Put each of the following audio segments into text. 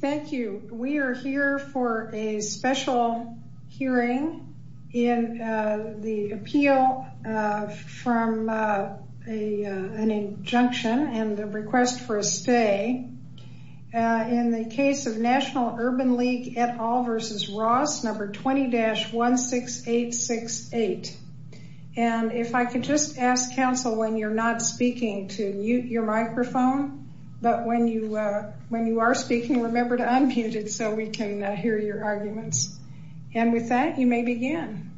Thank you. We are here for a special hearing in the appeal from an injunction and the request for a stay in the case of National Urban League et al versus Ross number 20-16868 and if I could just ask counsel when you're not but when you are speaking remember to unmute it so we can hear your arguments and with that you may begin.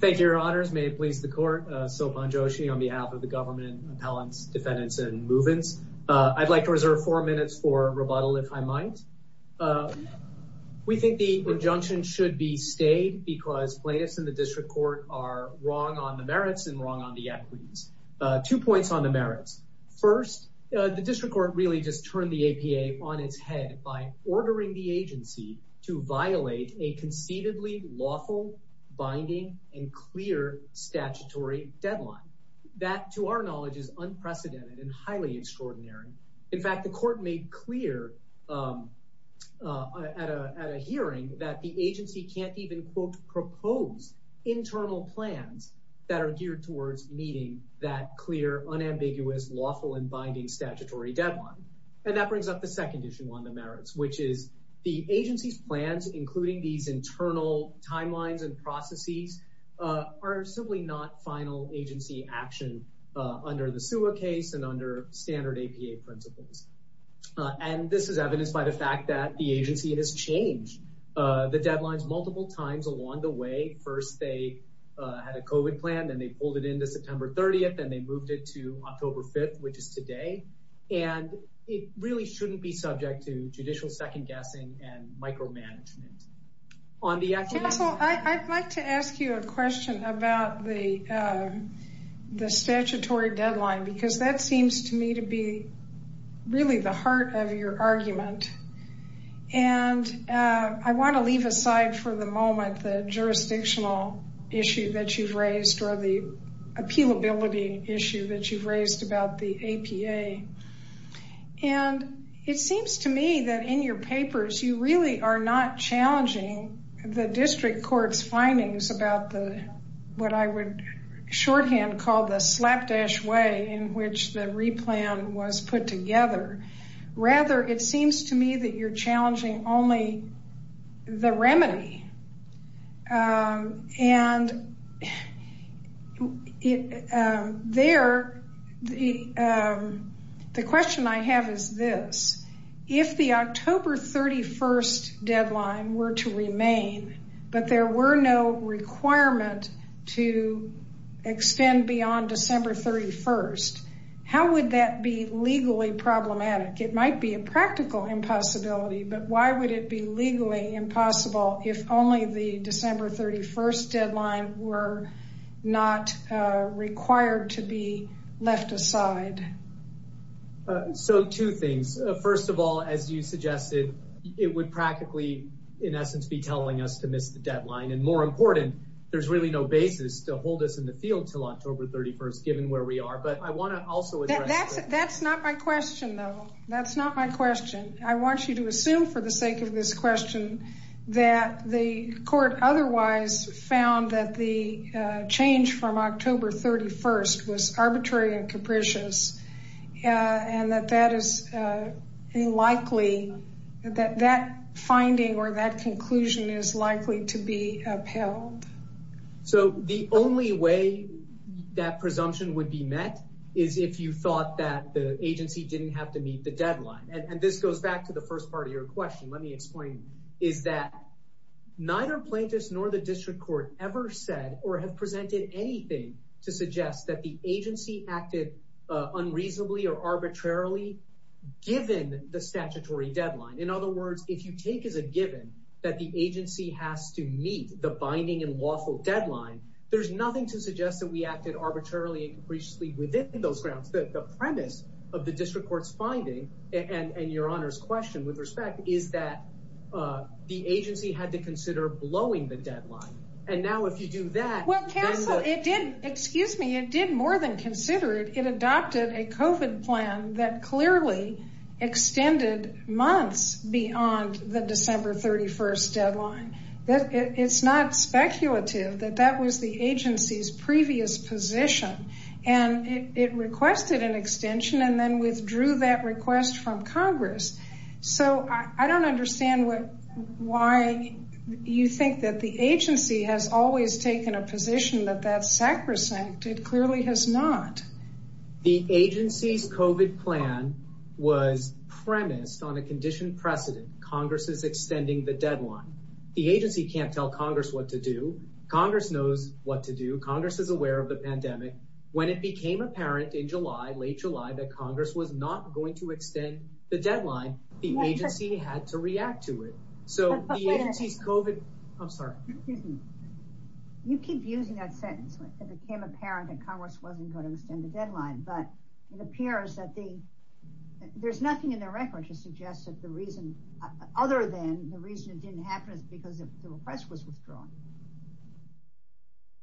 Thank you your honors may it please the court Sobhan Joshi on behalf of the government appellants defendants and move-ins. I'd like to reserve four minutes for rebuttal if I might. We think the injunction should be stayed because plaintiffs in the district court are wrong on the merits and wrong on the equities. Two points on the merits. First the district court really just turned the APA on its head by ordering the agency to violate a conceivably lawful binding and clear statutory deadline. That to our knowledge is unprecedented and highly extraordinary. In fact the court made clear at a hearing that the agency can't even quote propose internal plans that are geared towards meeting that clear unambiguous lawful and binding statutory deadline and that brings up the second issue on the merits which is the agency's plans including these internal timelines and processes are simply not final agency action under the SUA case and under standard APA principles and this is evidenced by the fact that the agency has changed the deadlines multiple times along the way. First they had a COVID plan then they pulled it into September 30th and they moved it to October 5th which is today and it really shouldn't be subject to judicial second-guessing and micromanagement. I'd like to ask you a question about the the statutory deadline because that seems to me to be really the heart of your argument and I want to leave aside for the moment the jurisdictional issue that you've raised or the appealability issue that you've raised about the APA and it seems to me that in your papers you really are not challenging the district court's findings about the what I would shorthand call the slapdash way in which the replan was put together rather it seems to me that you're challenging only the remedy and there the question I have is this if the October 31st deadline were to remain but there were no requirement to extend beyond December 31st how would that be legally problematic it might be a practical impossibility but why would it be legally impossible if only the December 31st deadline were not required to be left aside. So two things first of all as you and more important there's really no basis to hold us in the field till October 31st given where we are but I want to also that's that's not my question though that's not my question I want you to assume for the sake of this question that the court otherwise found that the change from October 31st was arbitrary and capricious and that that is unlikely that that finding or that is unlikely to be upheld. So the only way that presumption would be met is if you thought that the agency didn't have to meet the deadline and this goes back to the first part of your question let me explain is that neither plaintiffs nor the district court ever said or have presented anything to suggest that the agency acted unreasonably or arbitrarily given the statutory deadline in other words if you take as a given that the agency has to meet the binding and lawful deadline there's nothing to suggest that we acted arbitrarily and capriciously within those grounds that the premise of the district court's finding and and your honor's question with respect is that uh the agency had to consider blowing the deadline and now if you do that well counsel it did excuse me it did more than consider it it adopted a COVID plan that clearly extended months beyond the December 31st deadline that it's not speculative that that was the agency's previous position and it requested an extension and then withdrew that request from congress so I don't understand why you think that the agency has always taken a position that that's sacrosanct it clearly has not the agency's COVID plan was premised on a conditioned precedent congress is extending the deadline the agency can't tell congress what to do congress knows what to do congress is aware of the pandemic when it became apparent in july late july that congress was not going to extend the deadline the agency had to react to it so the agency's COVID I'm sorry you keep using that sentence it became apparent that congress wasn't going to extend the deadline but it appears that the there's nothing in the record to suggest that the reason other than the reason it didn't happen is because the request was withdrawn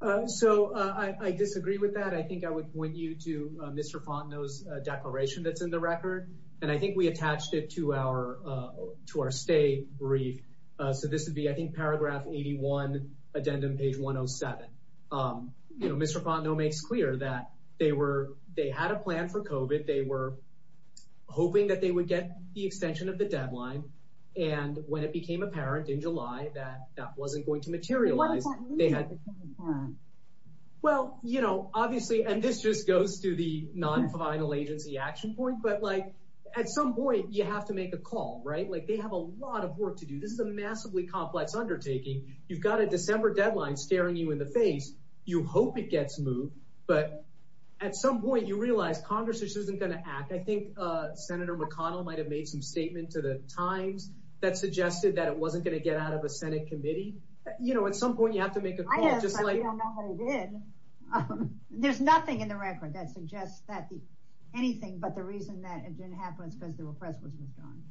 uh so uh I disagree with that I think I would point you to Mr. Fontenot's declaration that's in the record and I think we attached it to our uh to our state brief uh so this would be I think paragraph 81 addendum page 107 um you know Mr. Fontenot makes clear that they were they had a plan for COVID they were hoping that they would get the extension of the deadline and when it became apparent in july that that wasn't going to materialize they had well you know obviously and this just goes to the non-final agency action point but like at some point you have to make a call right like they have a lot of work to do this is a massively complex undertaking you've got a december deadline staring you in the face you hope it gets moved but at some point you realize congress isn't going to act I think uh senator mcconnell might have made some statement to the times that suggested that it wasn't going to get out of a senate committee you know at some point you have to make a call just like I don't know what it did um there's nothing in the record that suggests that the anything but the reason that it didn't happen is because the request was moved on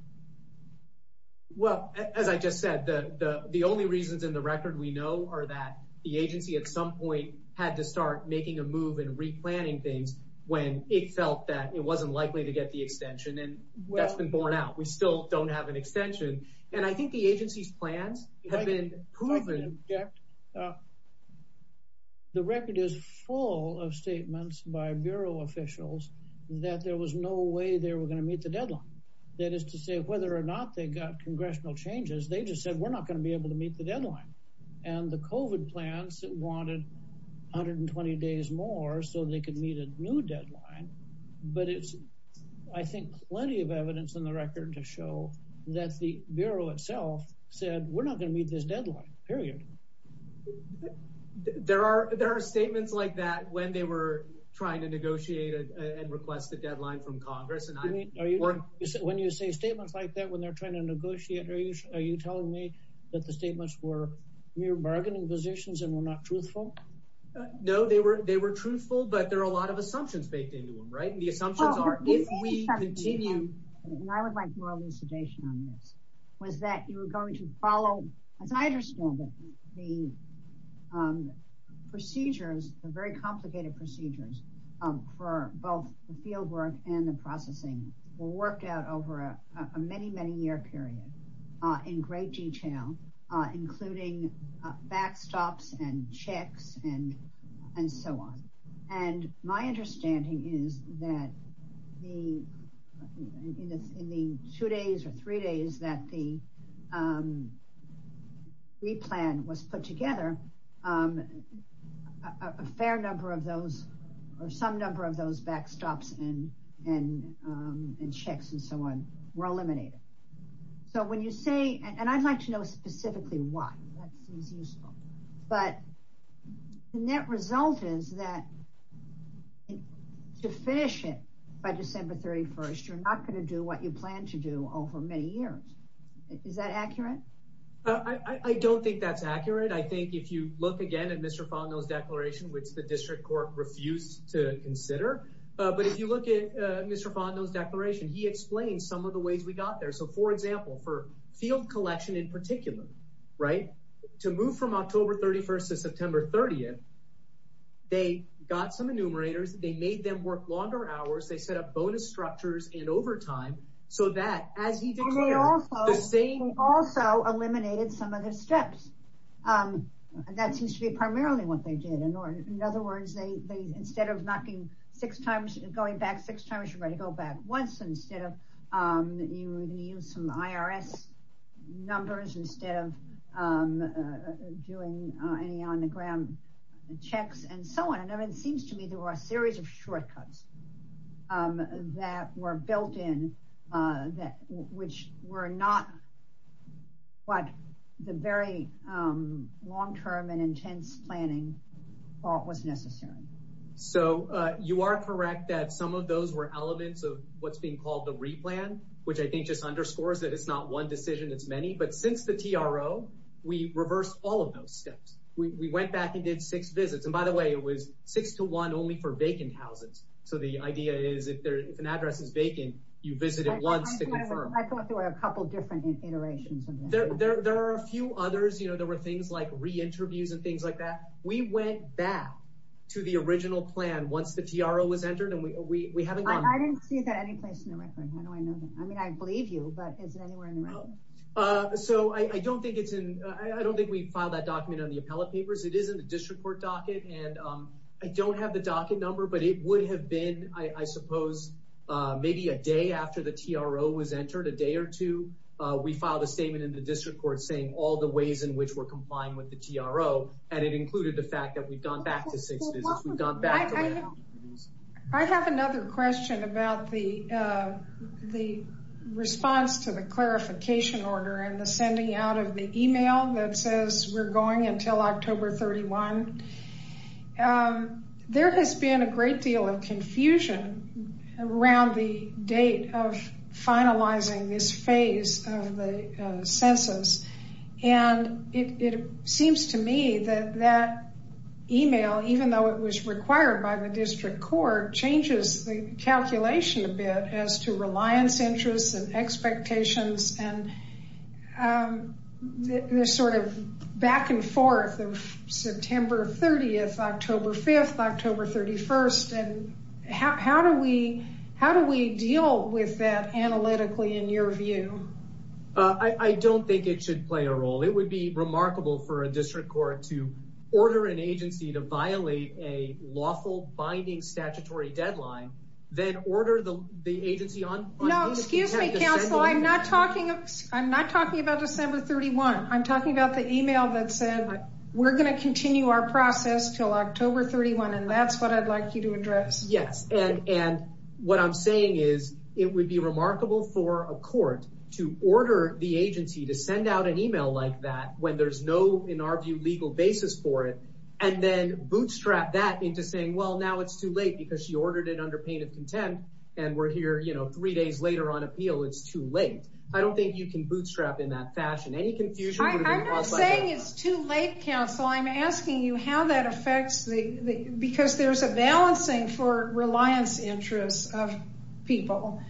well as I just said the the the only reasons in the record we know are that the agency at some point had to start making a move and replanning things when it felt that it wasn't likely to get the extension and that's been borne out we still don't have an extension and I think the agency's plans have been proven yeah the record is full of statements by bureau officials that there was no way they were going to meet the deadline that is to say whether or not they got congressional changes they just said we're not going to be able to meet the deadline and the covid plans that wanted 120 days more so they could meet a new deadline but it's I think plenty of evidence in the record to show that the bureau itself said we're not going to meet this deadline period there are there are statements like that when they were trying to negotiate and request the deadline from congress and I mean are you when you say statements like that when they're trying to negotiate are you are you telling me that the statements were mere bargaining positions and were not truthful no they were they were truthful but there are a lot of assumptions baked into them the assumptions are if we continue and I would like more elucidation on this was that you were going to follow as I understand it the procedures the very complicated procedures for both the field work and the processing were worked out over a many many year period in great detail uh including backstops and checks and and so on and my understanding is that the in the two days or three days that the um replan was put together um a fair number of those or some number of those backstops and and um and checks and so on were eliminated so when you say and I'd like to know specifically why that seems useful but the net result is that to finish it by December 31st you're not going to do what you plan to do over many years is that accurate I I don't think that's accurate I think if you look again at Mr. Fondo's declaration which the district court refused to consider uh but if you look at uh Mr. Fondo's declaration he explained some of the ways we got there so for example for field collection in particular right to move from October 31st to September 30th they got some enumerators they made them work longer hours they set up bonus structures and overtime so that as he declared the same also eliminated some of the steps um that seems to be primarily what they did in order in other um you would use some IRS numbers instead of um doing any on the ground checks and so on and it seems to me there were a series of shortcuts um that were built in uh that which were not what the very um long-term and intense planning thought was necessary so uh you are correct that some of those were elements of what's being called the replan which I think just underscores that it's not one decision it's many but since the TRO we reversed all of those steps we went back and did six visits and by the way it was six to one only for vacant houses so the idea is if there if an address is vacant you visit it once to confirm I thought there were a couple different iterations there there are a few others you know there were like re-interviews and things like that we went back to the original plan once the TRO was entered and we we haven't gone I didn't see that anyplace in the record how do I know that I mean I believe you but is it anywhere in the record uh so I I don't think it's in I don't think we filed that document on the appellate papers it is in the district court docket and um I don't have the docket number but it would have been I I suppose uh maybe a day after the TRO was entered a day or we filed a statement in the district court saying all the ways in which we're complying with the TRO and it included the fact that we've gone back to six visits we've gone back I have another question about the uh the response to the clarification order and the sending out of the email that says we're going until October 31. Um there has been a great deal of confusion around the date of finalizing this phase of the census and it it seems to me that that email even though it was required by the district court changes the calculation a bit as to reliance interests and expectations and um the sort of back and forth of September 30th, October 5th, October 31st and how do we how do we deal with that analytically in your view? Uh I don't think it should play a role it would be remarkable for a district court to order an agency to violate a lawful binding statutory deadline then order the the agency on no excuse me counsel I'm not talking I'm not talking about December 31. I'm talking about the email that said we're going to continue our process until October 31 and that's what I'd like you to address. Yes and and what I'm saying is it would be remarkable for a court to order the agency to send out an email like that when there's no in our view legal basis for it and then bootstrap that into saying well now it's too late because she ordered it under pain of contempt and we're here you know three days later on appeal it's too late. I don't think you can bootstrap in that fashion any confusion. I'm not saying it's too late counsel I'm asking you how that affects the because there's a balancing for reliance interests of people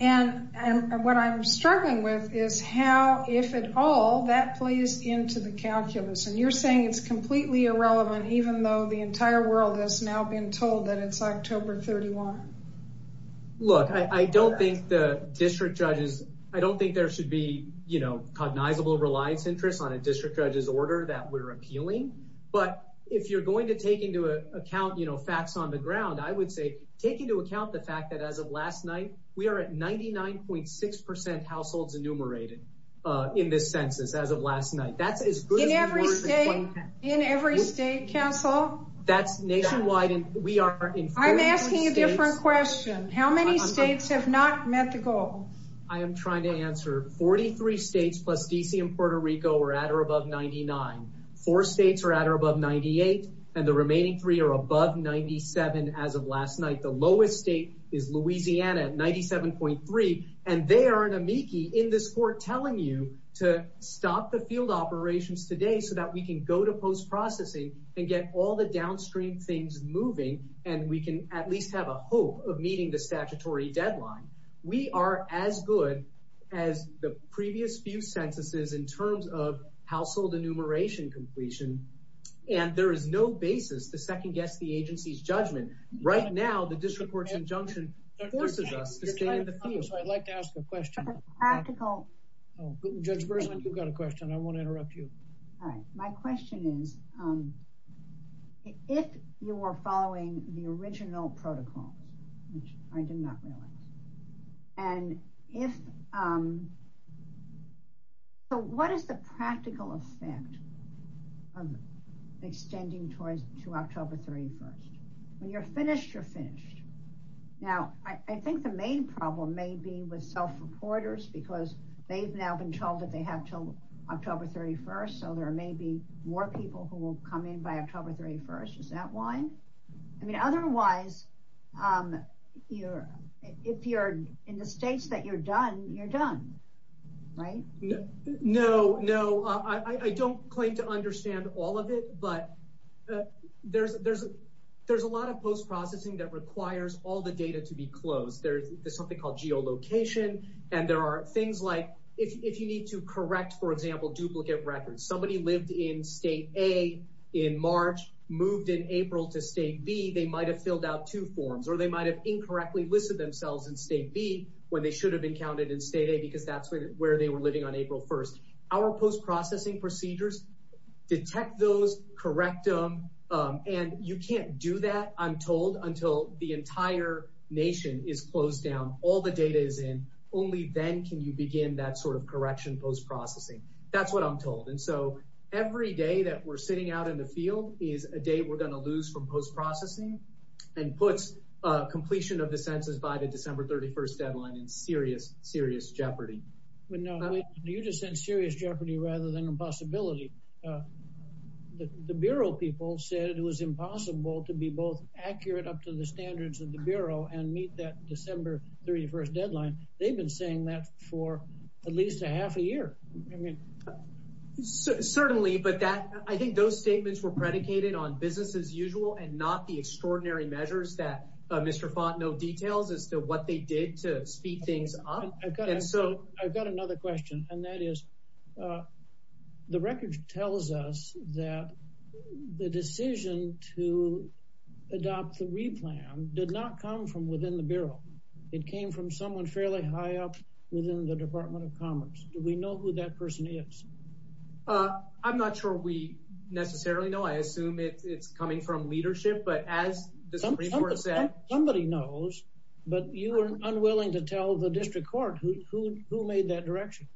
and and what I'm struggling with is how if at all that plays into the calculus and you're saying it's completely irrelevant even though the entire world has now been told that it's October 31. Look I I don't think the district judges I don't think there should be you know cognizable reliance interests on a district judge's order that we're appealing but if you're going to take into account you know facts on the ground I would say take into account the fact that as of last night we are at 99.6 percent households enumerated uh in this census as of last night that's as good in every state in every state counsel that's nationwide and we are in I'm asking a different question how many states have not met the goal I am trying to answer 43 states plus DC and Puerto Rico are at or above 99. Four states are at or above 98 and the remaining three are above 97 as of last night the lowest state is Louisiana at 97.3 and they are an amici in this court telling you to stop the field operations today so that we can go to post-processing and get all the downstream things moving and we can at least have a hope of meeting the statutory deadline we are as good as the previous few censuses in terms of household enumeration completion and there is no basis to second guess the agency's judgment right now the district court's Judge Breslin you've got a question I won't interrupt you all right my question is um if you are following the original protocols which I did not realize and if um so what is the practical effect of extending towards to October 31st when you're finished you're finished now I think the main problem may be with self-reporters because they've now been told that they have till October 31st so there may be more people who will come in by October 31st is that why I mean otherwise um you're if you're in the states that you're done you're done right no no I I don't claim to understand all of it but there's there's there's a lot of post-processing that requires all the data to be closed there's something called geolocation and there are things like if you need to correct for example duplicate records somebody lived in state a in March moved in April to state b they might have filled out two forms or they might have incorrectly listed themselves in state b when they should have been counted in state a because that's where they were living on April 1st our post-processing procedures detect those correct them and you can't do that I'm told until the entire nation is closed down all the data is in only then can you begin that sort of correction post-processing that's what I'm told and so every day that we're sitting out in the field is a day we're going to lose from post-processing and puts uh completion of the census by the December 31st deadline in serious serious jeopardy but no you just said serious jeopardy rather than impossibility uh the the bureau people said it was impossible to be both accurate up to the standards of the bureau and meet that December 31st deadline they've been saying that for at least a half a year I mean certainly but that I think those statements were predicated on business as usual and not the extraordinary measures that uh Mr. Font no details as to what they did to speed things up I've got another question and that is uh the record tells us that the decision to adopt the replan did not come from within the bureau it came from someone fairly high up within the Department of Commerce do we know who that person is uh I'm not sure we necessarily know I assume it's coming from leadership but as the Supreme Court said somebody knows but you were unwilling to tell the district court who who made that direction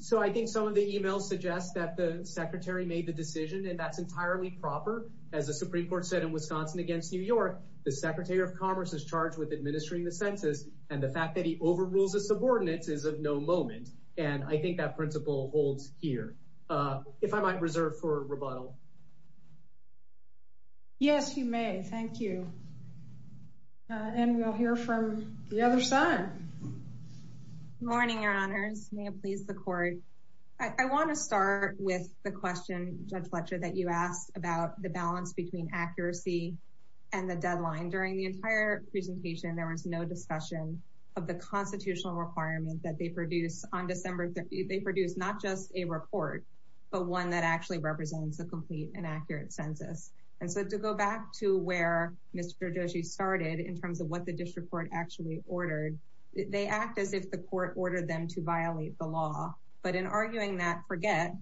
so I think some of the emails suggest that the secretary made the decision and that's entirely proper as the Supreme Court said in Wisconsin against New York the Secretary of Commerce is charged with administering the census and the fact that he overrules his subordinates is of no moment and I think that principle holds here uh if I might reserve for rebuttal yes you may thank you and we'll hear from the other side morning your honors may it please the court I want to start with the question Judge Fletcher that you asked about the balance between accuracy and the deadline during the entire presentation there was no discussion of the constitutional requirement that they produced on December 30 they produced not just a report but one that actually represents the complete and accurate census and so to go back to where Mr. Joshi started in terms of what the district court actually ordered they act as if the court ordered them to violate the law but in arguing that forget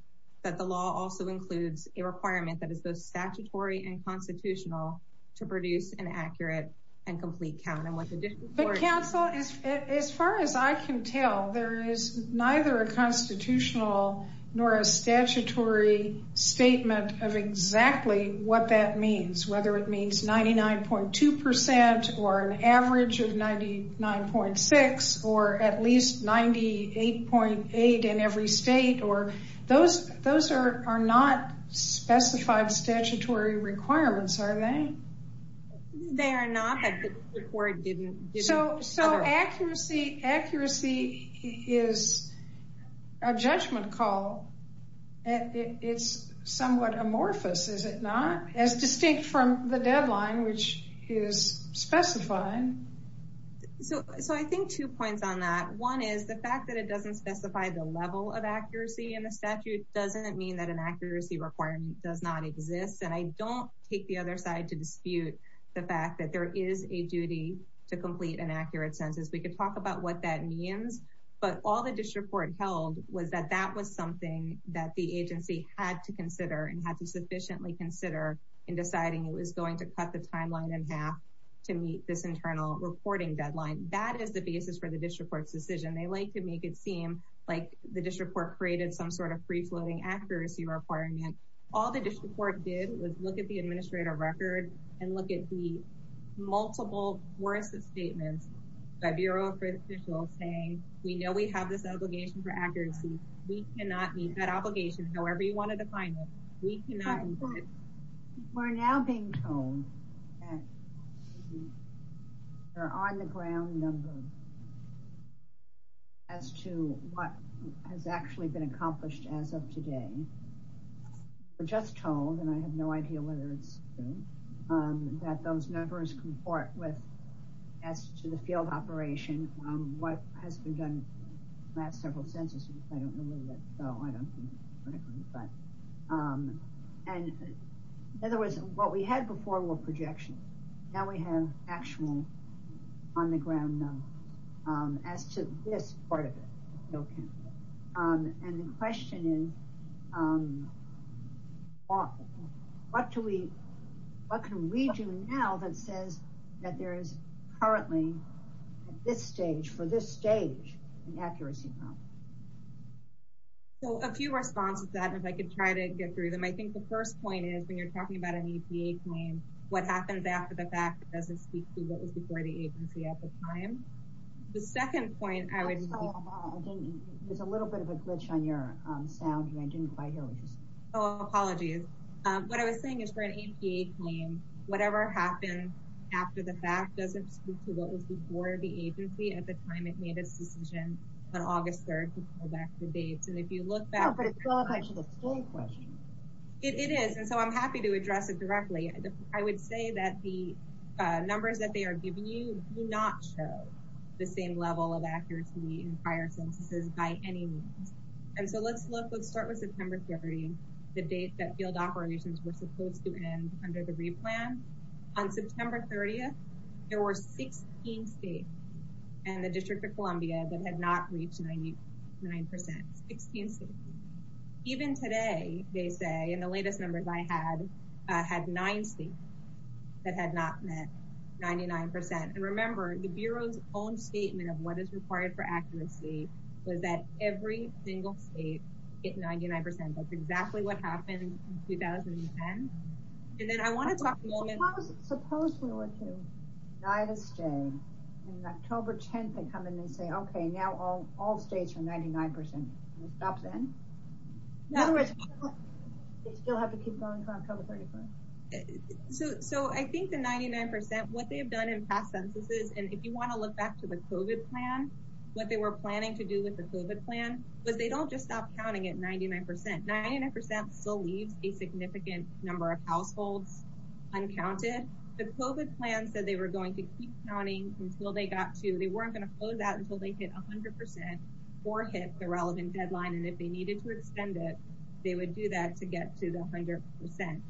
that the law also includes a requirement that is both statutory and constitutional to produce an accurate and complete count and what the district council is as far as I can tell there is neither a constitutional nor a statutory statement of exactly what that means whether it 9.6 or at least 98.8 in every state or those those are are not specified statutory requirements are they they are not the court didn't so so accuracy accuracy is a judgment call and it's somewhat amorphous is it not as distinct from the deadline which is specified so so I think two points on that one is the fact that it doesn't specify the level of accuracy in the statute doesn't mean that an accuracy requirement does not exist and I don't take the other side to dispute the fact that there is a duty to complete an accurate census we could talk about what that means but all the district court held was that that was something that the agency had to consider and had to sufficiently consider in deciding it was going to cut the timeline in to meet this internal reporting deadline that is the basis for the district court's decision they like to make it seem like the district court created some sort of free-floating accuracy requirement all the district court did was look at the administrator record and look at the multiple worst statements by bureau officials saying we know we have this obligation for accuracy we cannot meet that obligation however you want to define it we cannot we're now being told that they're on the ground number as to what has actually been accomplished as of today we're just told and I have no idea whether it's true um that those numbers comport with as to the field operation um what has been done last several census I don't know what though I forward projection now we have actual on the ground um as to this part of it okay um and the question is um what do we what can we do now that says that there is currently at this stage for this stage an accuracy problem so a few responses that if I could try to get through them I think the first point is when you're talking about an EPA claim what happens after the fact doesn't speak to what was before the agency at the time the second point I would there's a little bit of a glitch on your um sound you I didn't quite hear what you said oh apologies um what I was saying is for an APA claim whatever happened after the fact doesn't speak to what was before the agency at the time it made its decision on August 3rd to pull back the dates and if you look back but it is and so I'm happy to address it directly I would say that the uh numbers that they are giving you do not show the same level of accuracy in prior censuses by any means and so let's look let's start with September 30 the date that field operations were supposed to end under the replan on September 30th there were 16 states and the District of Columbia that had not reached 99 16 states even today they say and the latest numbers I had uh had nine states that had not met 99 and remember the Bureau's own statement of what is required for accuracy was that every single state hit 99 that's exactly what happened in 2010 and then I want to talk suppose we were to die this day in October 10th they come in and say okay now all all states are 99 percent stop then in other words they still have to keep going for October 31st so so I think the 99 percent what they have done in past censuses and if you want to look back to the COVID plan what they were planning to do with the COVID plan was they don't just stop counting at the COVID plan said they were going to keep counting until they got to they weren't going to close out until they hit 100 or hit the relevant deadline and if they needed to extend it they would do that to get to the 100 percent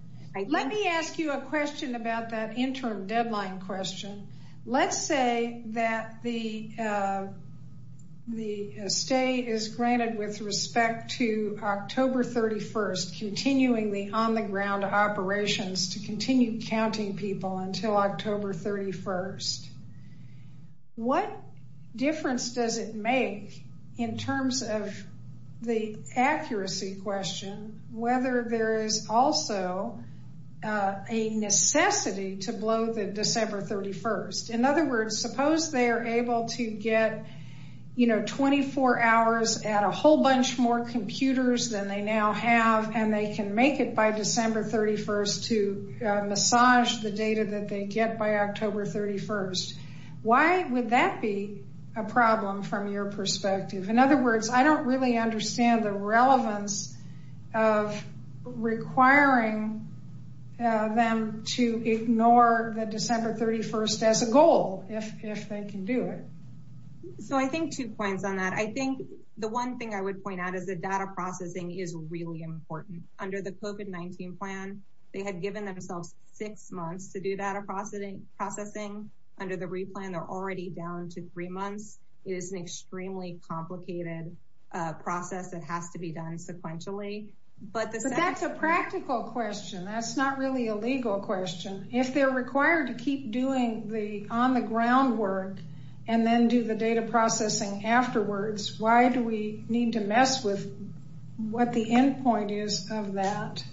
let me ask you a question about that interim deadline question let's say that the uh the stay is granted with respect to October 31st continuing the on the ground operations to continue counting people until October 31st what difference does it make in terms of the accuracy question whether there is also a necessity to blow the December 31st in other words suppose they are able to get you know 24 hours at a whole bunch more computers than they now have and they can make it by December 31st to massage the data that they get by October 31st why would that be a problem from your perspective in other words I don't really understand the relevance of requiring them to ignore the December 31st as a goal if if they can do it so I think two points on that I think the one thing I would point out is the data processing is really important under the COVID-19 plan they had given themselves six months to do data processing under the replan they're already down to three months it is an extremely complicated process that has to be done sequentially but that's a practical question that's not really a legal question if they're required to keep doing the on the ground work and then do the what the end point is of that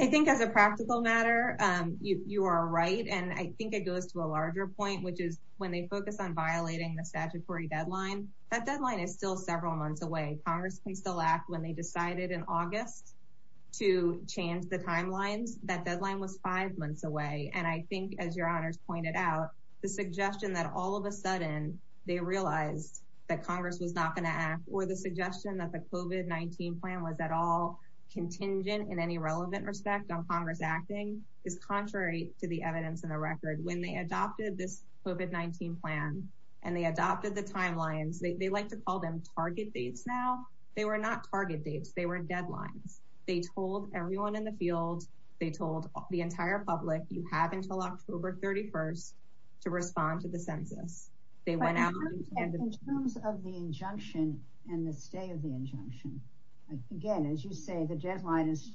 I think as a practical matter you are right and I think it goes to a larger point which is when they focus on violating the statutory deadline that deadline is still several months away Congress can still act when they decided in August to change the timelines that deadline was five months away and I think as your honors pointed out the suggestion that all of a sudden they realized that Congress was not going to act or the suggestion that the COVID-19 plan was at all contingent in any relevant respect on Congress acting is contrary to the evidence in the record when they adopted this COVID-19 plan and they adopted the timelines they like to call them target dates now they were not target dates they were deadlines they told everyone in the field they told the entire public you have until October 31st to respond to the census they went out in terms of the injunction and the stay of the injunction again as you say the deadline is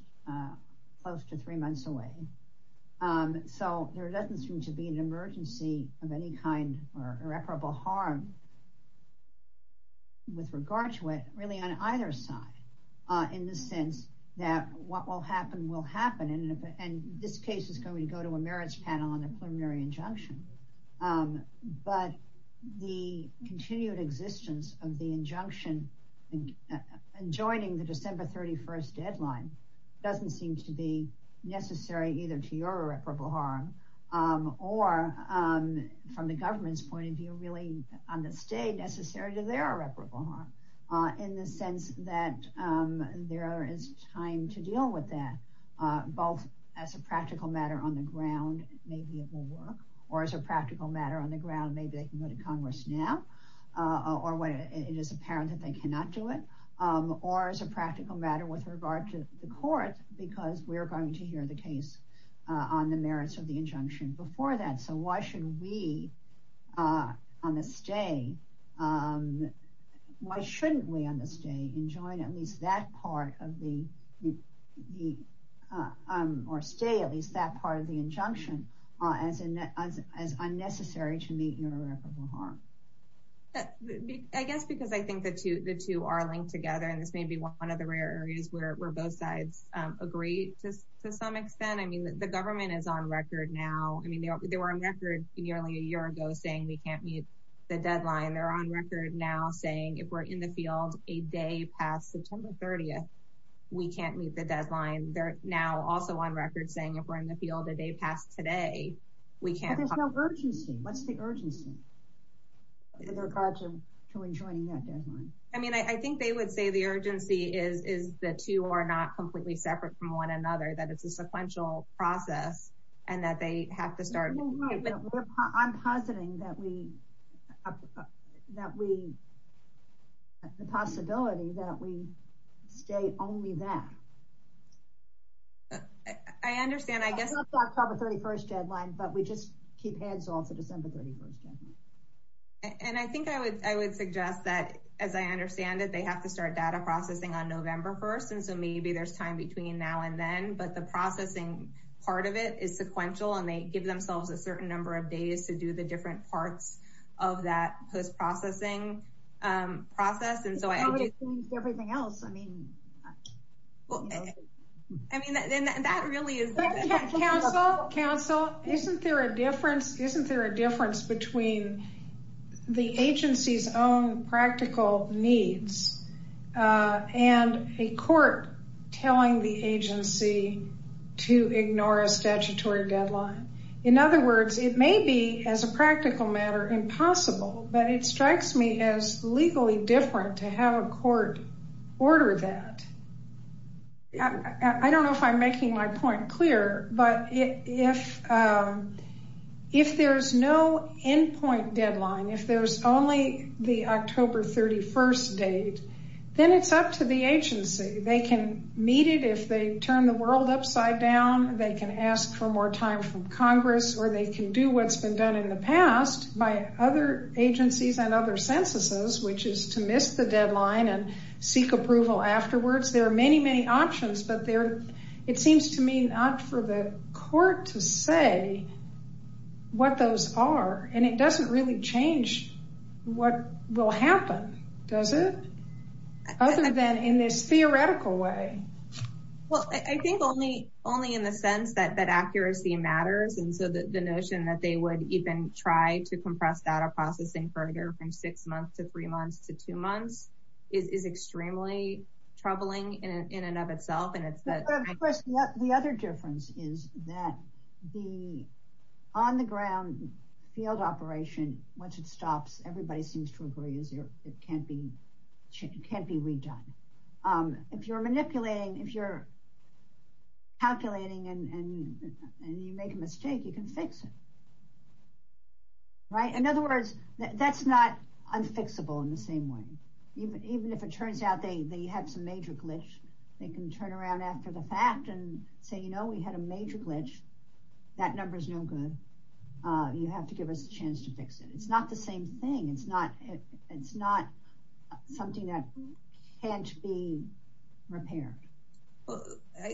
close to three months away so there doesn't seem to be an emergency of any kind or irreparable harm with regard to it really on either side in the sense that what will happen will happen and this case is going to go to a merits panel on the preliminary injunction but the continued existence of the injunction and joining the December 31st deadline doesn't seem to be necessary either to your irreparable harm or from the government's point of view really on the state necessary to their irreparable harm in the sense that there is time to deal with that both as a practical matter on the ground maybe it will work or as a practical matter on the ground maybe they can go to Congress now or when it is apparent that they cannot do it or as a practical matter with regard to the court because we're going to hear the case on the merits of the injunction before that so why should we on the stay um why shouldn't we on this day enjoin at least that part of the the um or stay at least that part of the injunction uh as in as as unnecessary to meet your irreparable harm i guess because i think the two the two are linked together and this may be one of the rare areas where both sides um agree just to some extent i mean the government is on record now i mean they were on record nearly a record now saying if we're in the field a day past september 30th we can't meet the deadline they're now also on record saying if we're in the field a day past today we can't there's no urgency what's the urgency in regards to to enjoining that deadline i mean i think they would say the urgency is is the two are not completely separate from one another that it's a sequential process and that they have to start i'm positing that we that we the possibility that we stay only that i understand i guess october 31st deadline but we just keep heads off the december 31st and i think i would i would suggest that as i understand it they have to start data processing on november 1st and so maybe there's time between now and then but the processing part of it is sequential and they give themselves a certain number of days to do the different parts of that post-processing um process and so i think everything else i mean well i mean and that really is counsel counsel isn't there a difference isn't there a difference between the agency's own practical needs uh and a court telling the agency to ignore a statutory deadline in other words it may be as a practical matter impossible but it strikes me as legally different to have a court order that i don't know if i'm making my point clear but if um end point deadline if there's only the october 31st date then it's up to the agency they can meet it if they turn the world upside down they can ask for more time from congress or they can do what's been done in the past by other agencies and other censuses which is to miss the deadline and seek approval afterwards there are many many options but there it seems to me not for the court to say what those are and it doesn't really change what will happen does it other than in this theoretical way well i think only only in the sense that that accuracy matters and so that the notion that they would even try to compress data processing further from six months to three months to two months is is extremely troubling in in and of itself and it's that the other difference is that the on the ground field operation once it stops everybody seems to agree is it can't be it can't be redone um if you're manipulating if you're calculating and and you make a mistake you can fix it right in other words that's not unfixable in the same way even even if it turns out they had some major glitch they can turn around after the fact and say you know we had a major glitch that number is no good uh you have to give us a chance to fix it it's not the same thing it's not it's not something that can't be repaired well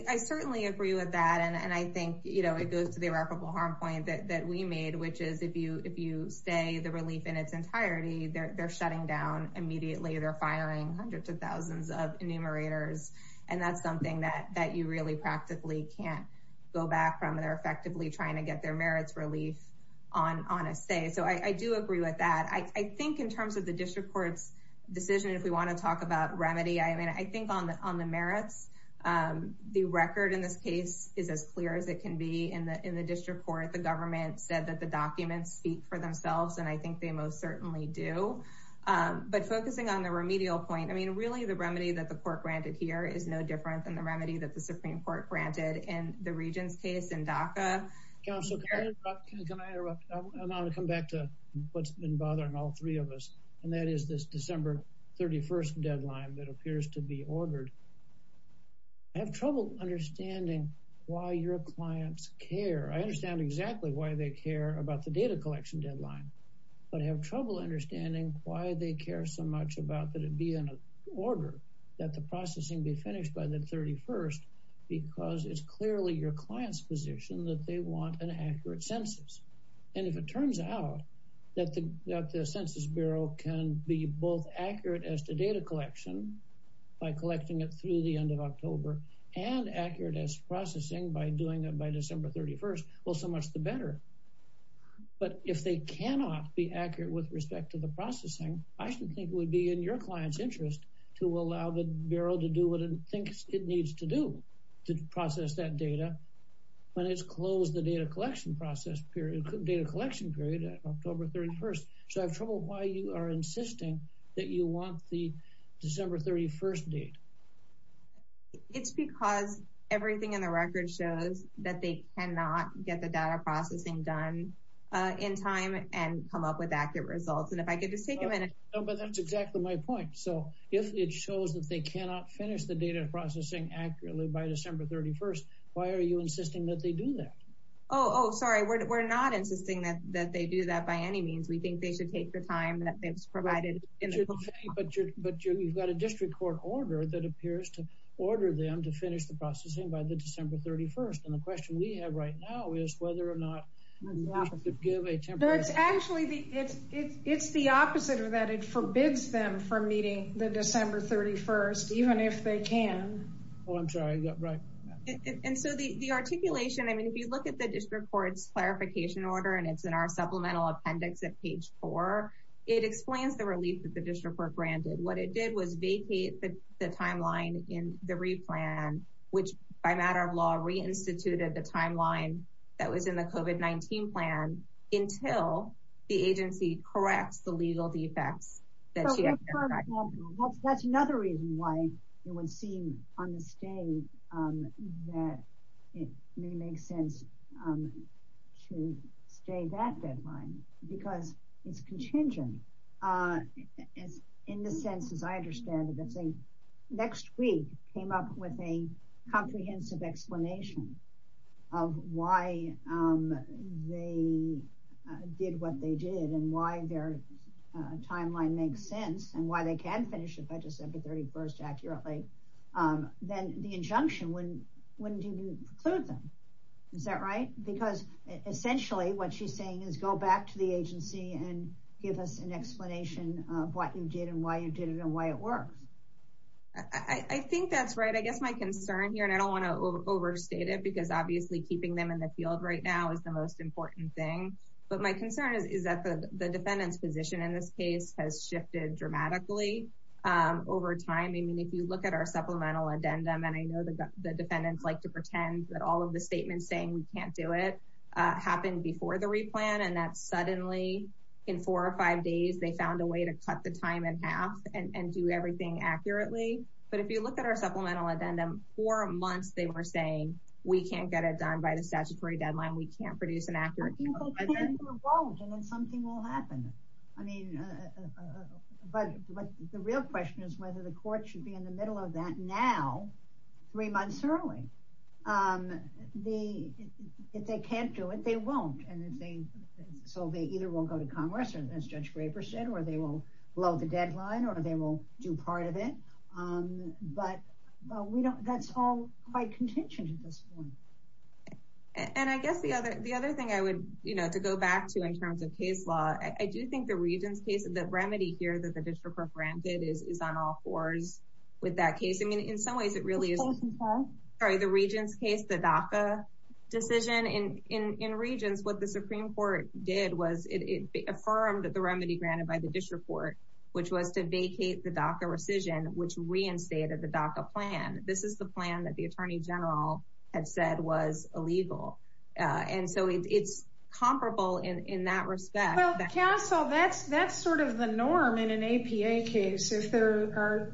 i certainly agree with that and and i think you know it goes to the irreparable harm point that that we made which is if you if you stay the of enumerators and that's something that that you really practically can't go back from they're effectively trying to get their merits relief on on a say so i i do agree with that i i think in terms of the district court's decision if we want to talk about remedy i mean i think on the on the merits um the record in this case is as clear as it can be in the in the district court the government said that the documents speak for themselves and i think they most certainly do um but focusing on the remedial point i mean really the remedy that the court granted here is no different than the remedy that the supreme court granted in the regent's case in daca council can i interrupt and i want to come back to what's been bothering all three of us and that is this december 31st deadline that appears to be ordered i have trouble understanding why your clients care i understand exactly why they care about the data collection deadline but i have trouble understanding why they care so much about that it be in an order that the processing be finished by the 31st because it's clearly your client's position that they want an accurate census and if it turns out that the that the census bureau can be both accurate as to data collection by collecting it through the end of october and accurate as processing by doing it by december 31st well so much the better but if they cannot be accurate with respect to the processing i should think would be in your client's interest to allow the bureau to do what it thinks it needs to do to process that data when it's closed the data collection process period data collection period october 31st so i have trouble why you are insisting that you want the december 31st date it's because everything in the record shows that they cannot get the data processing done uh in time and come up with accurate results and if i could just take a minute but that's exactly my point so if it shows that they cannot finish the data processing accurately by december 31st why are you insisting that they do that oh oh sorry we're not insisting that that they do that by any means we think they should take the time that they've provided but but you've got a court order that appears to order them to finish the processing by the december 31st and the question we have right now is whether or not you should give a temporary it's actually the it's it's the opposite of that it forbids them from meeting the december 31st even if they can oh i'm sorry right and so the the articulation i mean if you look at the district court's clarification order and it's in our supplemental appendix at page four it explains the relief that the district granted what it did was vacate the timeline in the replan which by matter of law reinstituted the timeline that was in the covid 19 plan until the agency corrects the legal defects that's another reason why it would seem on the state um that it may make sense um to stay that deadline because it's contingent uh as in the sense as i understand it that's a next week came up with a comprehensive explanation of why um they did what they did and why their timeline makes sense and why they can finish it by december 31st accurately um then the injunction when did you include them is that right because essentially what she's saying is go back to the agency and give us an explanation of what you did and why you did it and why it works i i think that's right i guess my concern here and i don't want to overstate it because obviously keeping them in the field right now is the most important thing but my concern is is that the the defendant's position in this case has shifted dramatically um over time i mean if you look at our supplemental addendum and i know the defendants like to pretend that all of the statements saying we can't do it uh happened before the replan and that suddenly in four or five days they found a way to cut the time in half and and do everything accurately but if you look at our supplemental addendum four months they were saying we can't get it done by the statutory deadline we can't produce an accurate and then something will happen i mean but but the real question is whether the court should be in the middle of that now three months early um the if they can't do it they won't and if they so they either will go to congress or as judge graper said or they will blow the deadline or they will do part of it um but but we don't that's all quite contentious at this point and i guess the other the other thing i would you know to go back to in terms of case law i do think the region's case of the remedy here that the district of granted is is on all fours with that case i mean in some ways it really is sorry the region's case the DACA decision in in in regions what the supreme court did was it affirmed the remedy granted by the district court which was to vacate the DACA rescission which reinstated the DACA plan this is the plan that the attorney general had said was illegal uh and so it's comparable in in that respect well counsel that's that's sort of the norm in an APA case if there are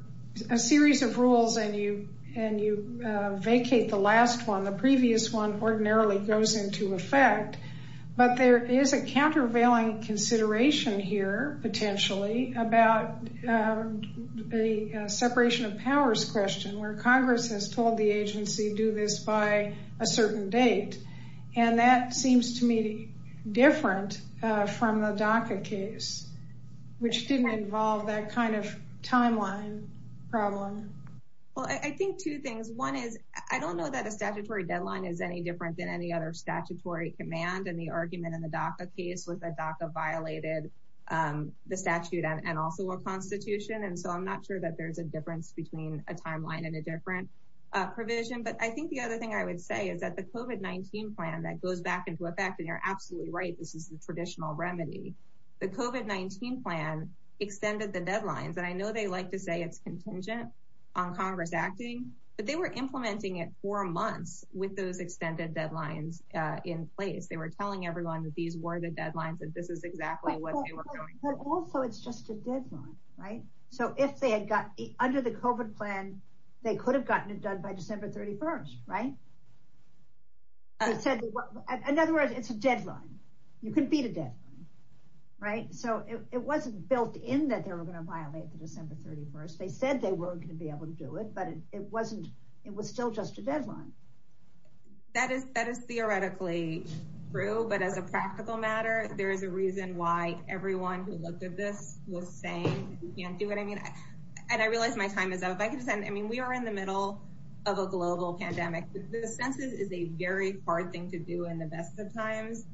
a series of rules and you and you uh vacate the last one the previous one ordinarily goes into effect but there is a countervailing consideration here potentially about the separation of powers question where congress has told the agency do this by a certain date and that seems to me different uh from the DACA case which didn't involve that kind of timeline problem well i think two things one is i don't know that a statutory deadline is any different than any other statutory command and the argument in the DACA case was that DACA violated um the statute and also a constitution and so i'm not sure that there's a difference between a timeline and a different uh provision but i think the other thing i would say is that the COVID-19 plan that goes back into effect and you're absolutely right this is the traditional remedy the COVID-19 plan extended the deadlines and i know they like to say it's contingent on congress acting but they were implementing it for months with those extended deadlines uh in place they were telling everyone that these were the deadlines and this is exactly what they were going but also it's just a deadline right so if they had got under the COVID plan they could have gotten it done by December 31st right it said in other words it's a deadline you can beat a deadline right so it wasn't built in that they were going to violate the December 31st they said they weren't going to be able to do it but it wasn't it was still just a deadline that is that is theoretically true but as a practical matter there is a reason why everyone who looked at this was saying you can't do it i mean and i realized my time is up i could send i mean we are in the middle of a global pandemic the census is a very hard thing to do in the best of times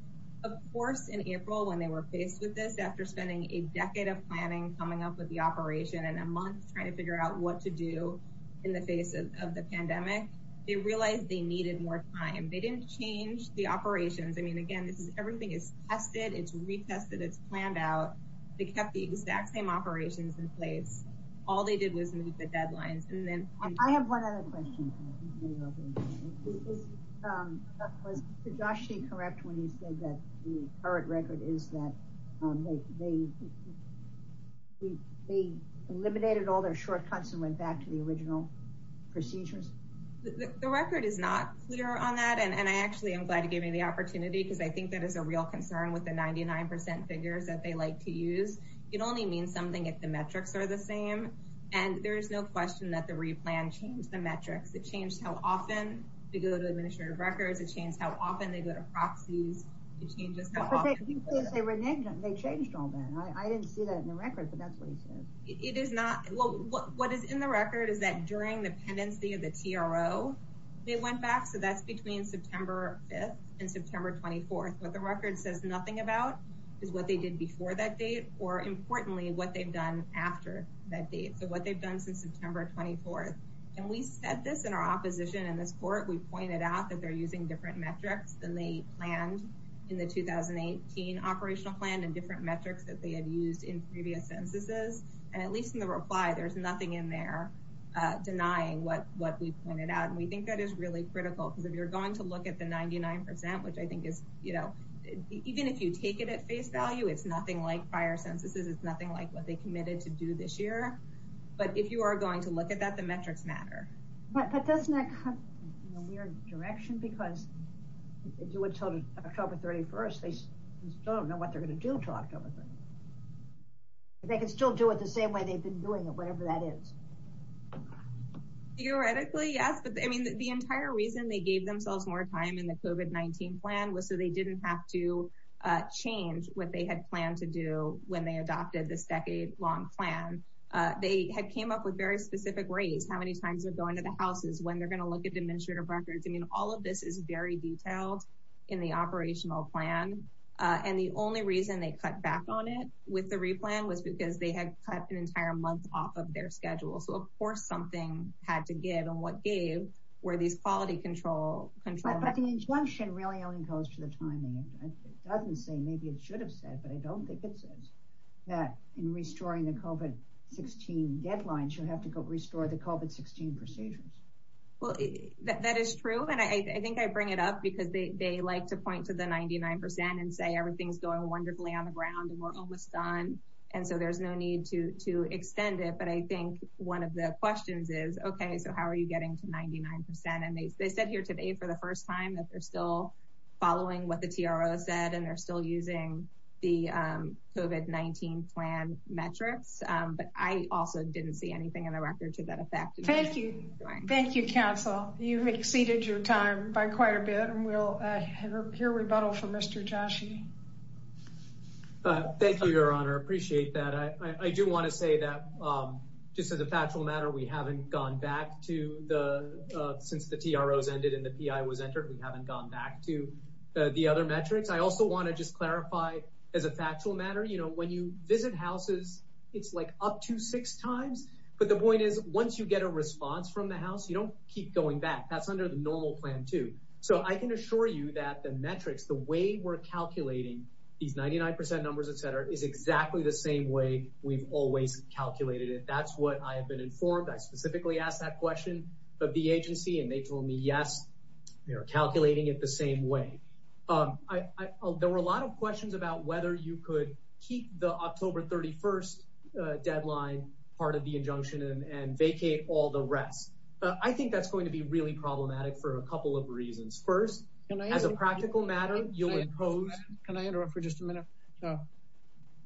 of course in April when they were faced with this after spending a decade of planning coming up with the operation and a month trying to figure out what to do in the face of the pandemic they realized they needed more time they didn't change the operations i mean again this is everything is tested it's retested it's planned out they kept the exact same operations in place all they did was move the deadlines and then i have one other question was josh correct when you said that the current record is that they they eliminated all their shortcuts and went back to the original procedures the record is not clear on that and i actually am glad you gave me the opportunity because i think that is a real concern with the 99 figures that they like to use it only means something if the metrics are the same and there is no question that the replan changed the metrics it changed how often to go to administrative records it changed how often they go to proxies it changes they were negative they changed all that i didn't see that in the record but that's what he said it is not well what is in the record is that during the pendency of the tro they went back so that's between September 5th and September 24th but the record says nothing about is what they did before that date or importantly what they've done after that date so what they've done since September 24th and we said this in our opposition in this court we pointed out that they're using different metrics than they planned in the 2018 operational plan and different metrics that they had used in previous censuses and at least in the reply there's nothing in there uh denying what what we pointed out and we think that is really critical because if you're going to it's nothing like prior censuses it's nothing like what they committed to do this year but if you are going to look at that the metrics matter but that does not come in a weird direction because they do it till October 31st they still don't know what they're going to do to October they can still do it the same way they've been doing it whatever that is theoretically yes but i mean the entire reason they gave themselves more time in the COVID-19 plan was so they didn't have to change what they had planned to do when they adopted this decade long plan they had came up with very specific rates how many times they're going to the houses when they're going to look at administrative records i mean all of this is very detailed in the operational plan and the only reason they cut back on it with the replan was because they had cut an entire month off of their schedule so of course something had to give and what gave were these quality control control but the injunction really only goes to the timing it doesn't say maybe it should have said but i don't think it says that in restoring the COVID-16 deadlines you'll have to go restore the COVID-16 procedures well that is true and i think i bring it up because they they like to point to the 99 percent and say everything's going wonderfully on the ground and we're almost done and so there's no need to to extend it but i think one of the they said here today for the first time that they're still following what the TRO said and they're still using the COVID-19 plan metrics but i also didn't see anything in the record to that effect thank you thank you counsel you've exceeded your time by quite a bit and we'll hear rebuttal from Mr. Joshi thank you your honor appreciate that i i do want to say that just as a factual matter we haven't gone back to the since the TROs ended and the PI was entered we haven't gone back to the other metrics i also want to just clarify as a factual matter you know when you visit houses it's like up to six times but the point is once you get a response from the house you don't keep going back that's under the normal plan too so i can assure you that the metrics the way we're calculating these 99 percent numbers etc is exactly the same way we've always calculated it that's what i have been informed i specifically asked that question of the agency and they told me yes we are calculating it the same way um i i there were a lot of questions about whether you could keep the october 31st deadline part of the injunction and vacate all the rest i think that's going to be really problematic for a couple of reasons first as a practical matter you'll impose can i interrupt for just a minute so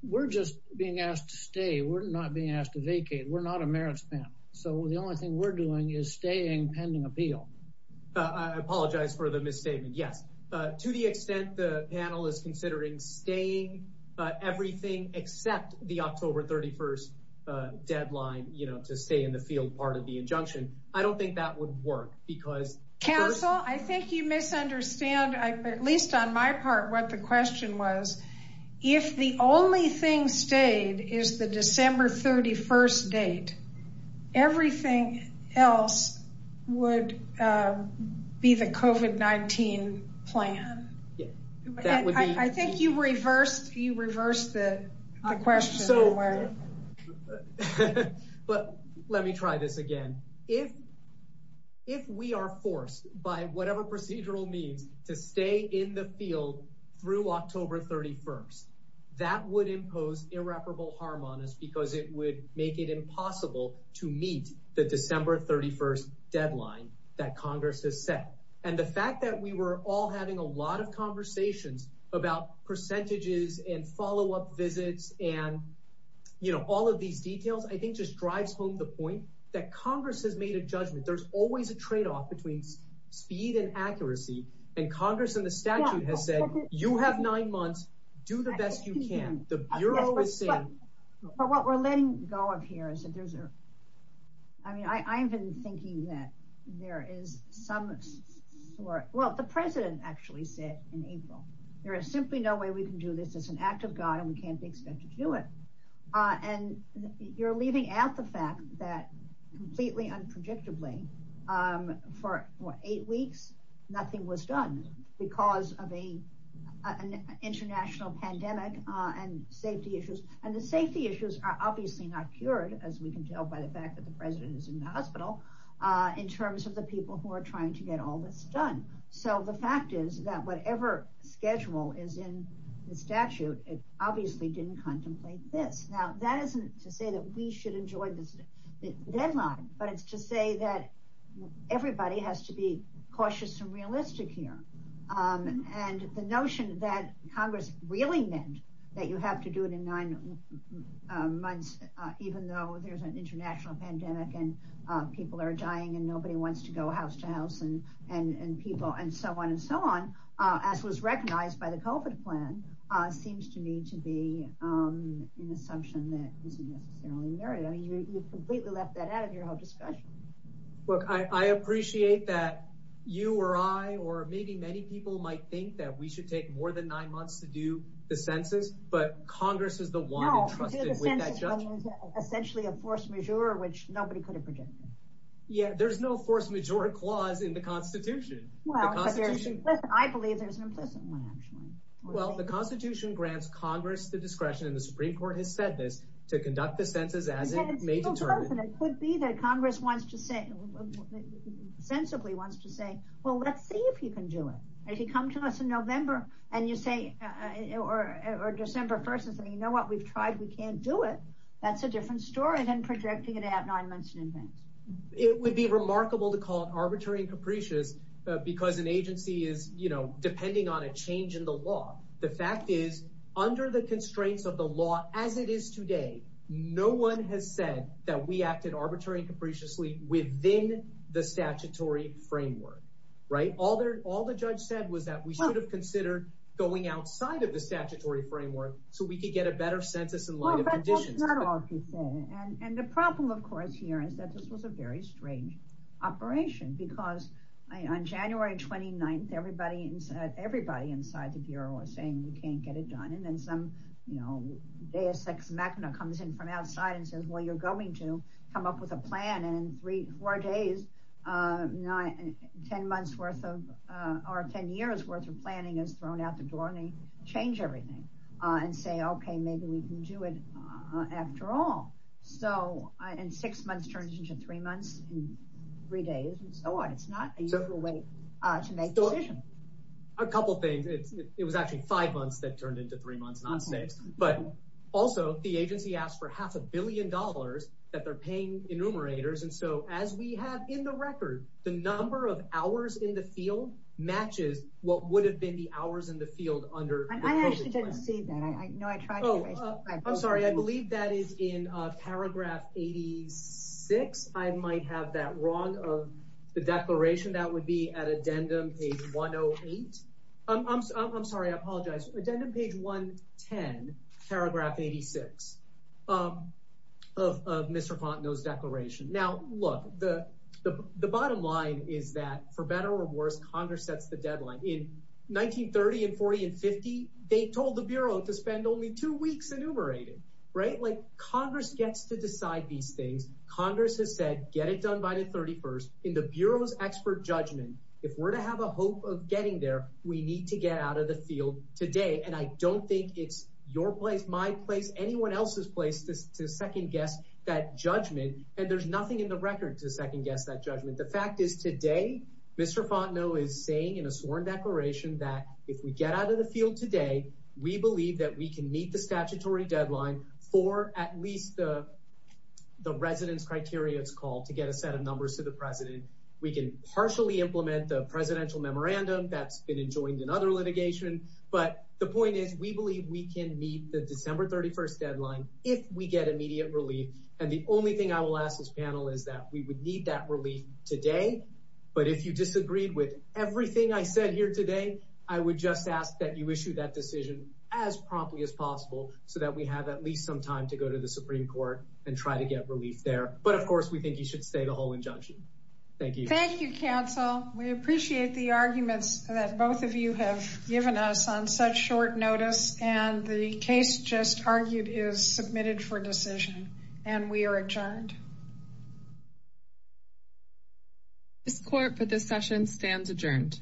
we're just being asked to stay we're not being asked to vacate we're not a merits panel so the only thing we're doing is staying pending appeal i apologize for the misstatement yes uh to the extent the panel is considering staying uh everything except the october 31st deadline you know to stay in the field part of the injunction i don't think that would work because counsel i think you misunderstand i at least on my part what the question was if the only thing stayed is the december 31st date everything else would uh be the covet 19 plan i think you reversed you reversed the question so yes but let me try this again if if we are forced by whatever procedural means to stay in the field through october 31st that would impose irreparable harm on us because it would make it impossible to meet the december 31st deadline that congress has set and the fact that we were all having a lot of conversations about percentages and follow-up visits and you know all of these details i think just drives home the point that congress has made a judgment there's always a trade-off between speed and accuracy and congress and the statute has said you have nine months do the best you can the bureau is saying but what we're letting go of here is that there's a i mean i i've been thinking that there is some sort well the president actually said in april there is simply no way we can do this it's an act of god and we can't be expected to do it uh and you're leaving out the fact that completely unpredictably um for eight weeks nothing was done because of a an international pandemic uh and safety issues and the safety issues are obviously not cured as we can tell by the fact that the president is in the hospital uh in terms of the people who are trying to get all this done so the fact is that whatever schedule is in the statute it obviously didn't contemplate this now that isn't to say that we should enjoy this deadline but it's to say that everybody has to be cautious and realistic here and the notion that congress really meant that you have to do it in nine months even though there's an international pandemic and people are dying and nobody wants to go house to house and and people and so on and so on uh as was recognized by the covid plan uh seems to me to be um an assumption that isn't necessarily married i mean you you've completely left that out of your whole discussion look i i appreciate that you or i or maybe many people might think that we should take more than nine months to do the census but congress is the one essentially a force majeure which nobody could have predicted yeah there's no force majeure clause in the constitution well i believe there's an implicit one actually well the constitution grants congress the discretion and the supreme court has said this to conduct the census as it may determine it could be that congress wants to say sensibly wants to say well let's see if you can do it if you come to us in november and you say uh or or december 1st and say you know what we've tried we can't do it that's a different story than projecting it at nine months in advance it would be remarkable to call it arbitrary and capricious because an agency is you know depending on a change in the law the fact is under the constraints of the law as it is today no one has said that we acted arbitrary and capriciously within the statutory framework right all their all the judge said was that we should have considered going outside of the statutory framework so we could get a better census in light of conditions and and the problem of course here is that this was a very strange operation because on january 29th everybody inside everybody inside the bureau was saying we can't get it done and then some you know deus ex machina comes in from outside and says well you're going to come up with a plan and in three four days uh nine 10 months worth of uh or 10 years worth of planning is thrown out the door and they change everything uh and say okay maybe we can do it uh after all so in six months turns into three months in three days and so on it's not a couple things it's it was actually five months that turned into three months not six but also the agency asked for half a billion dollars that they're paying enumerators and so as we have in the field matches what would have been the hours in the field under i actually didn't see that i know i tried i'm sorry i believe that is in uh paragraph 86 i might have that wrong of the declaration that would be at addendum page 108 i'm i'm sorry i apologize addendum page 110 paragraph 86 um of of mr fontenot's declaration now look the the bottom line is that for better or worse congress sets the deadline in 1930 and 40 and 50 they told the bureau to spend only two weeks enumerating right like congress gets to decide these things congress has said get it done by the 31st in the bureau's expert judgment if we're to have a hope of getting there we need to get out of the field today and i don't think it's your place my place anyone else's place to second guess that judgment and there's nothing in the record to second guess that judgment the fact is today mr fontenot is saying in a sworn declaration that if we get out of the field today we believe that we can meet the statutory deadline for at least the the residence criteria it's called to get a set of numbers to the president we can partially implement the presidential memorandum that's been enjoined in other litigation but the point is we believe we can meet the december 31st deadline if we get immediate relief and the only thing i will ask this panel is that we would need that relief today but if you disagreed with everything i said here today i would just ask that you issue that decision as promptly as possible so that we have at least some time to go to the supreme court and try to get relief there but of course we think you should stay the whole injunction thank you thank you counsel we appreciate the arguments that both of you have given us on such short notice and the case just argued is submitted for decision and we are adjourned this court for this session stands adjourned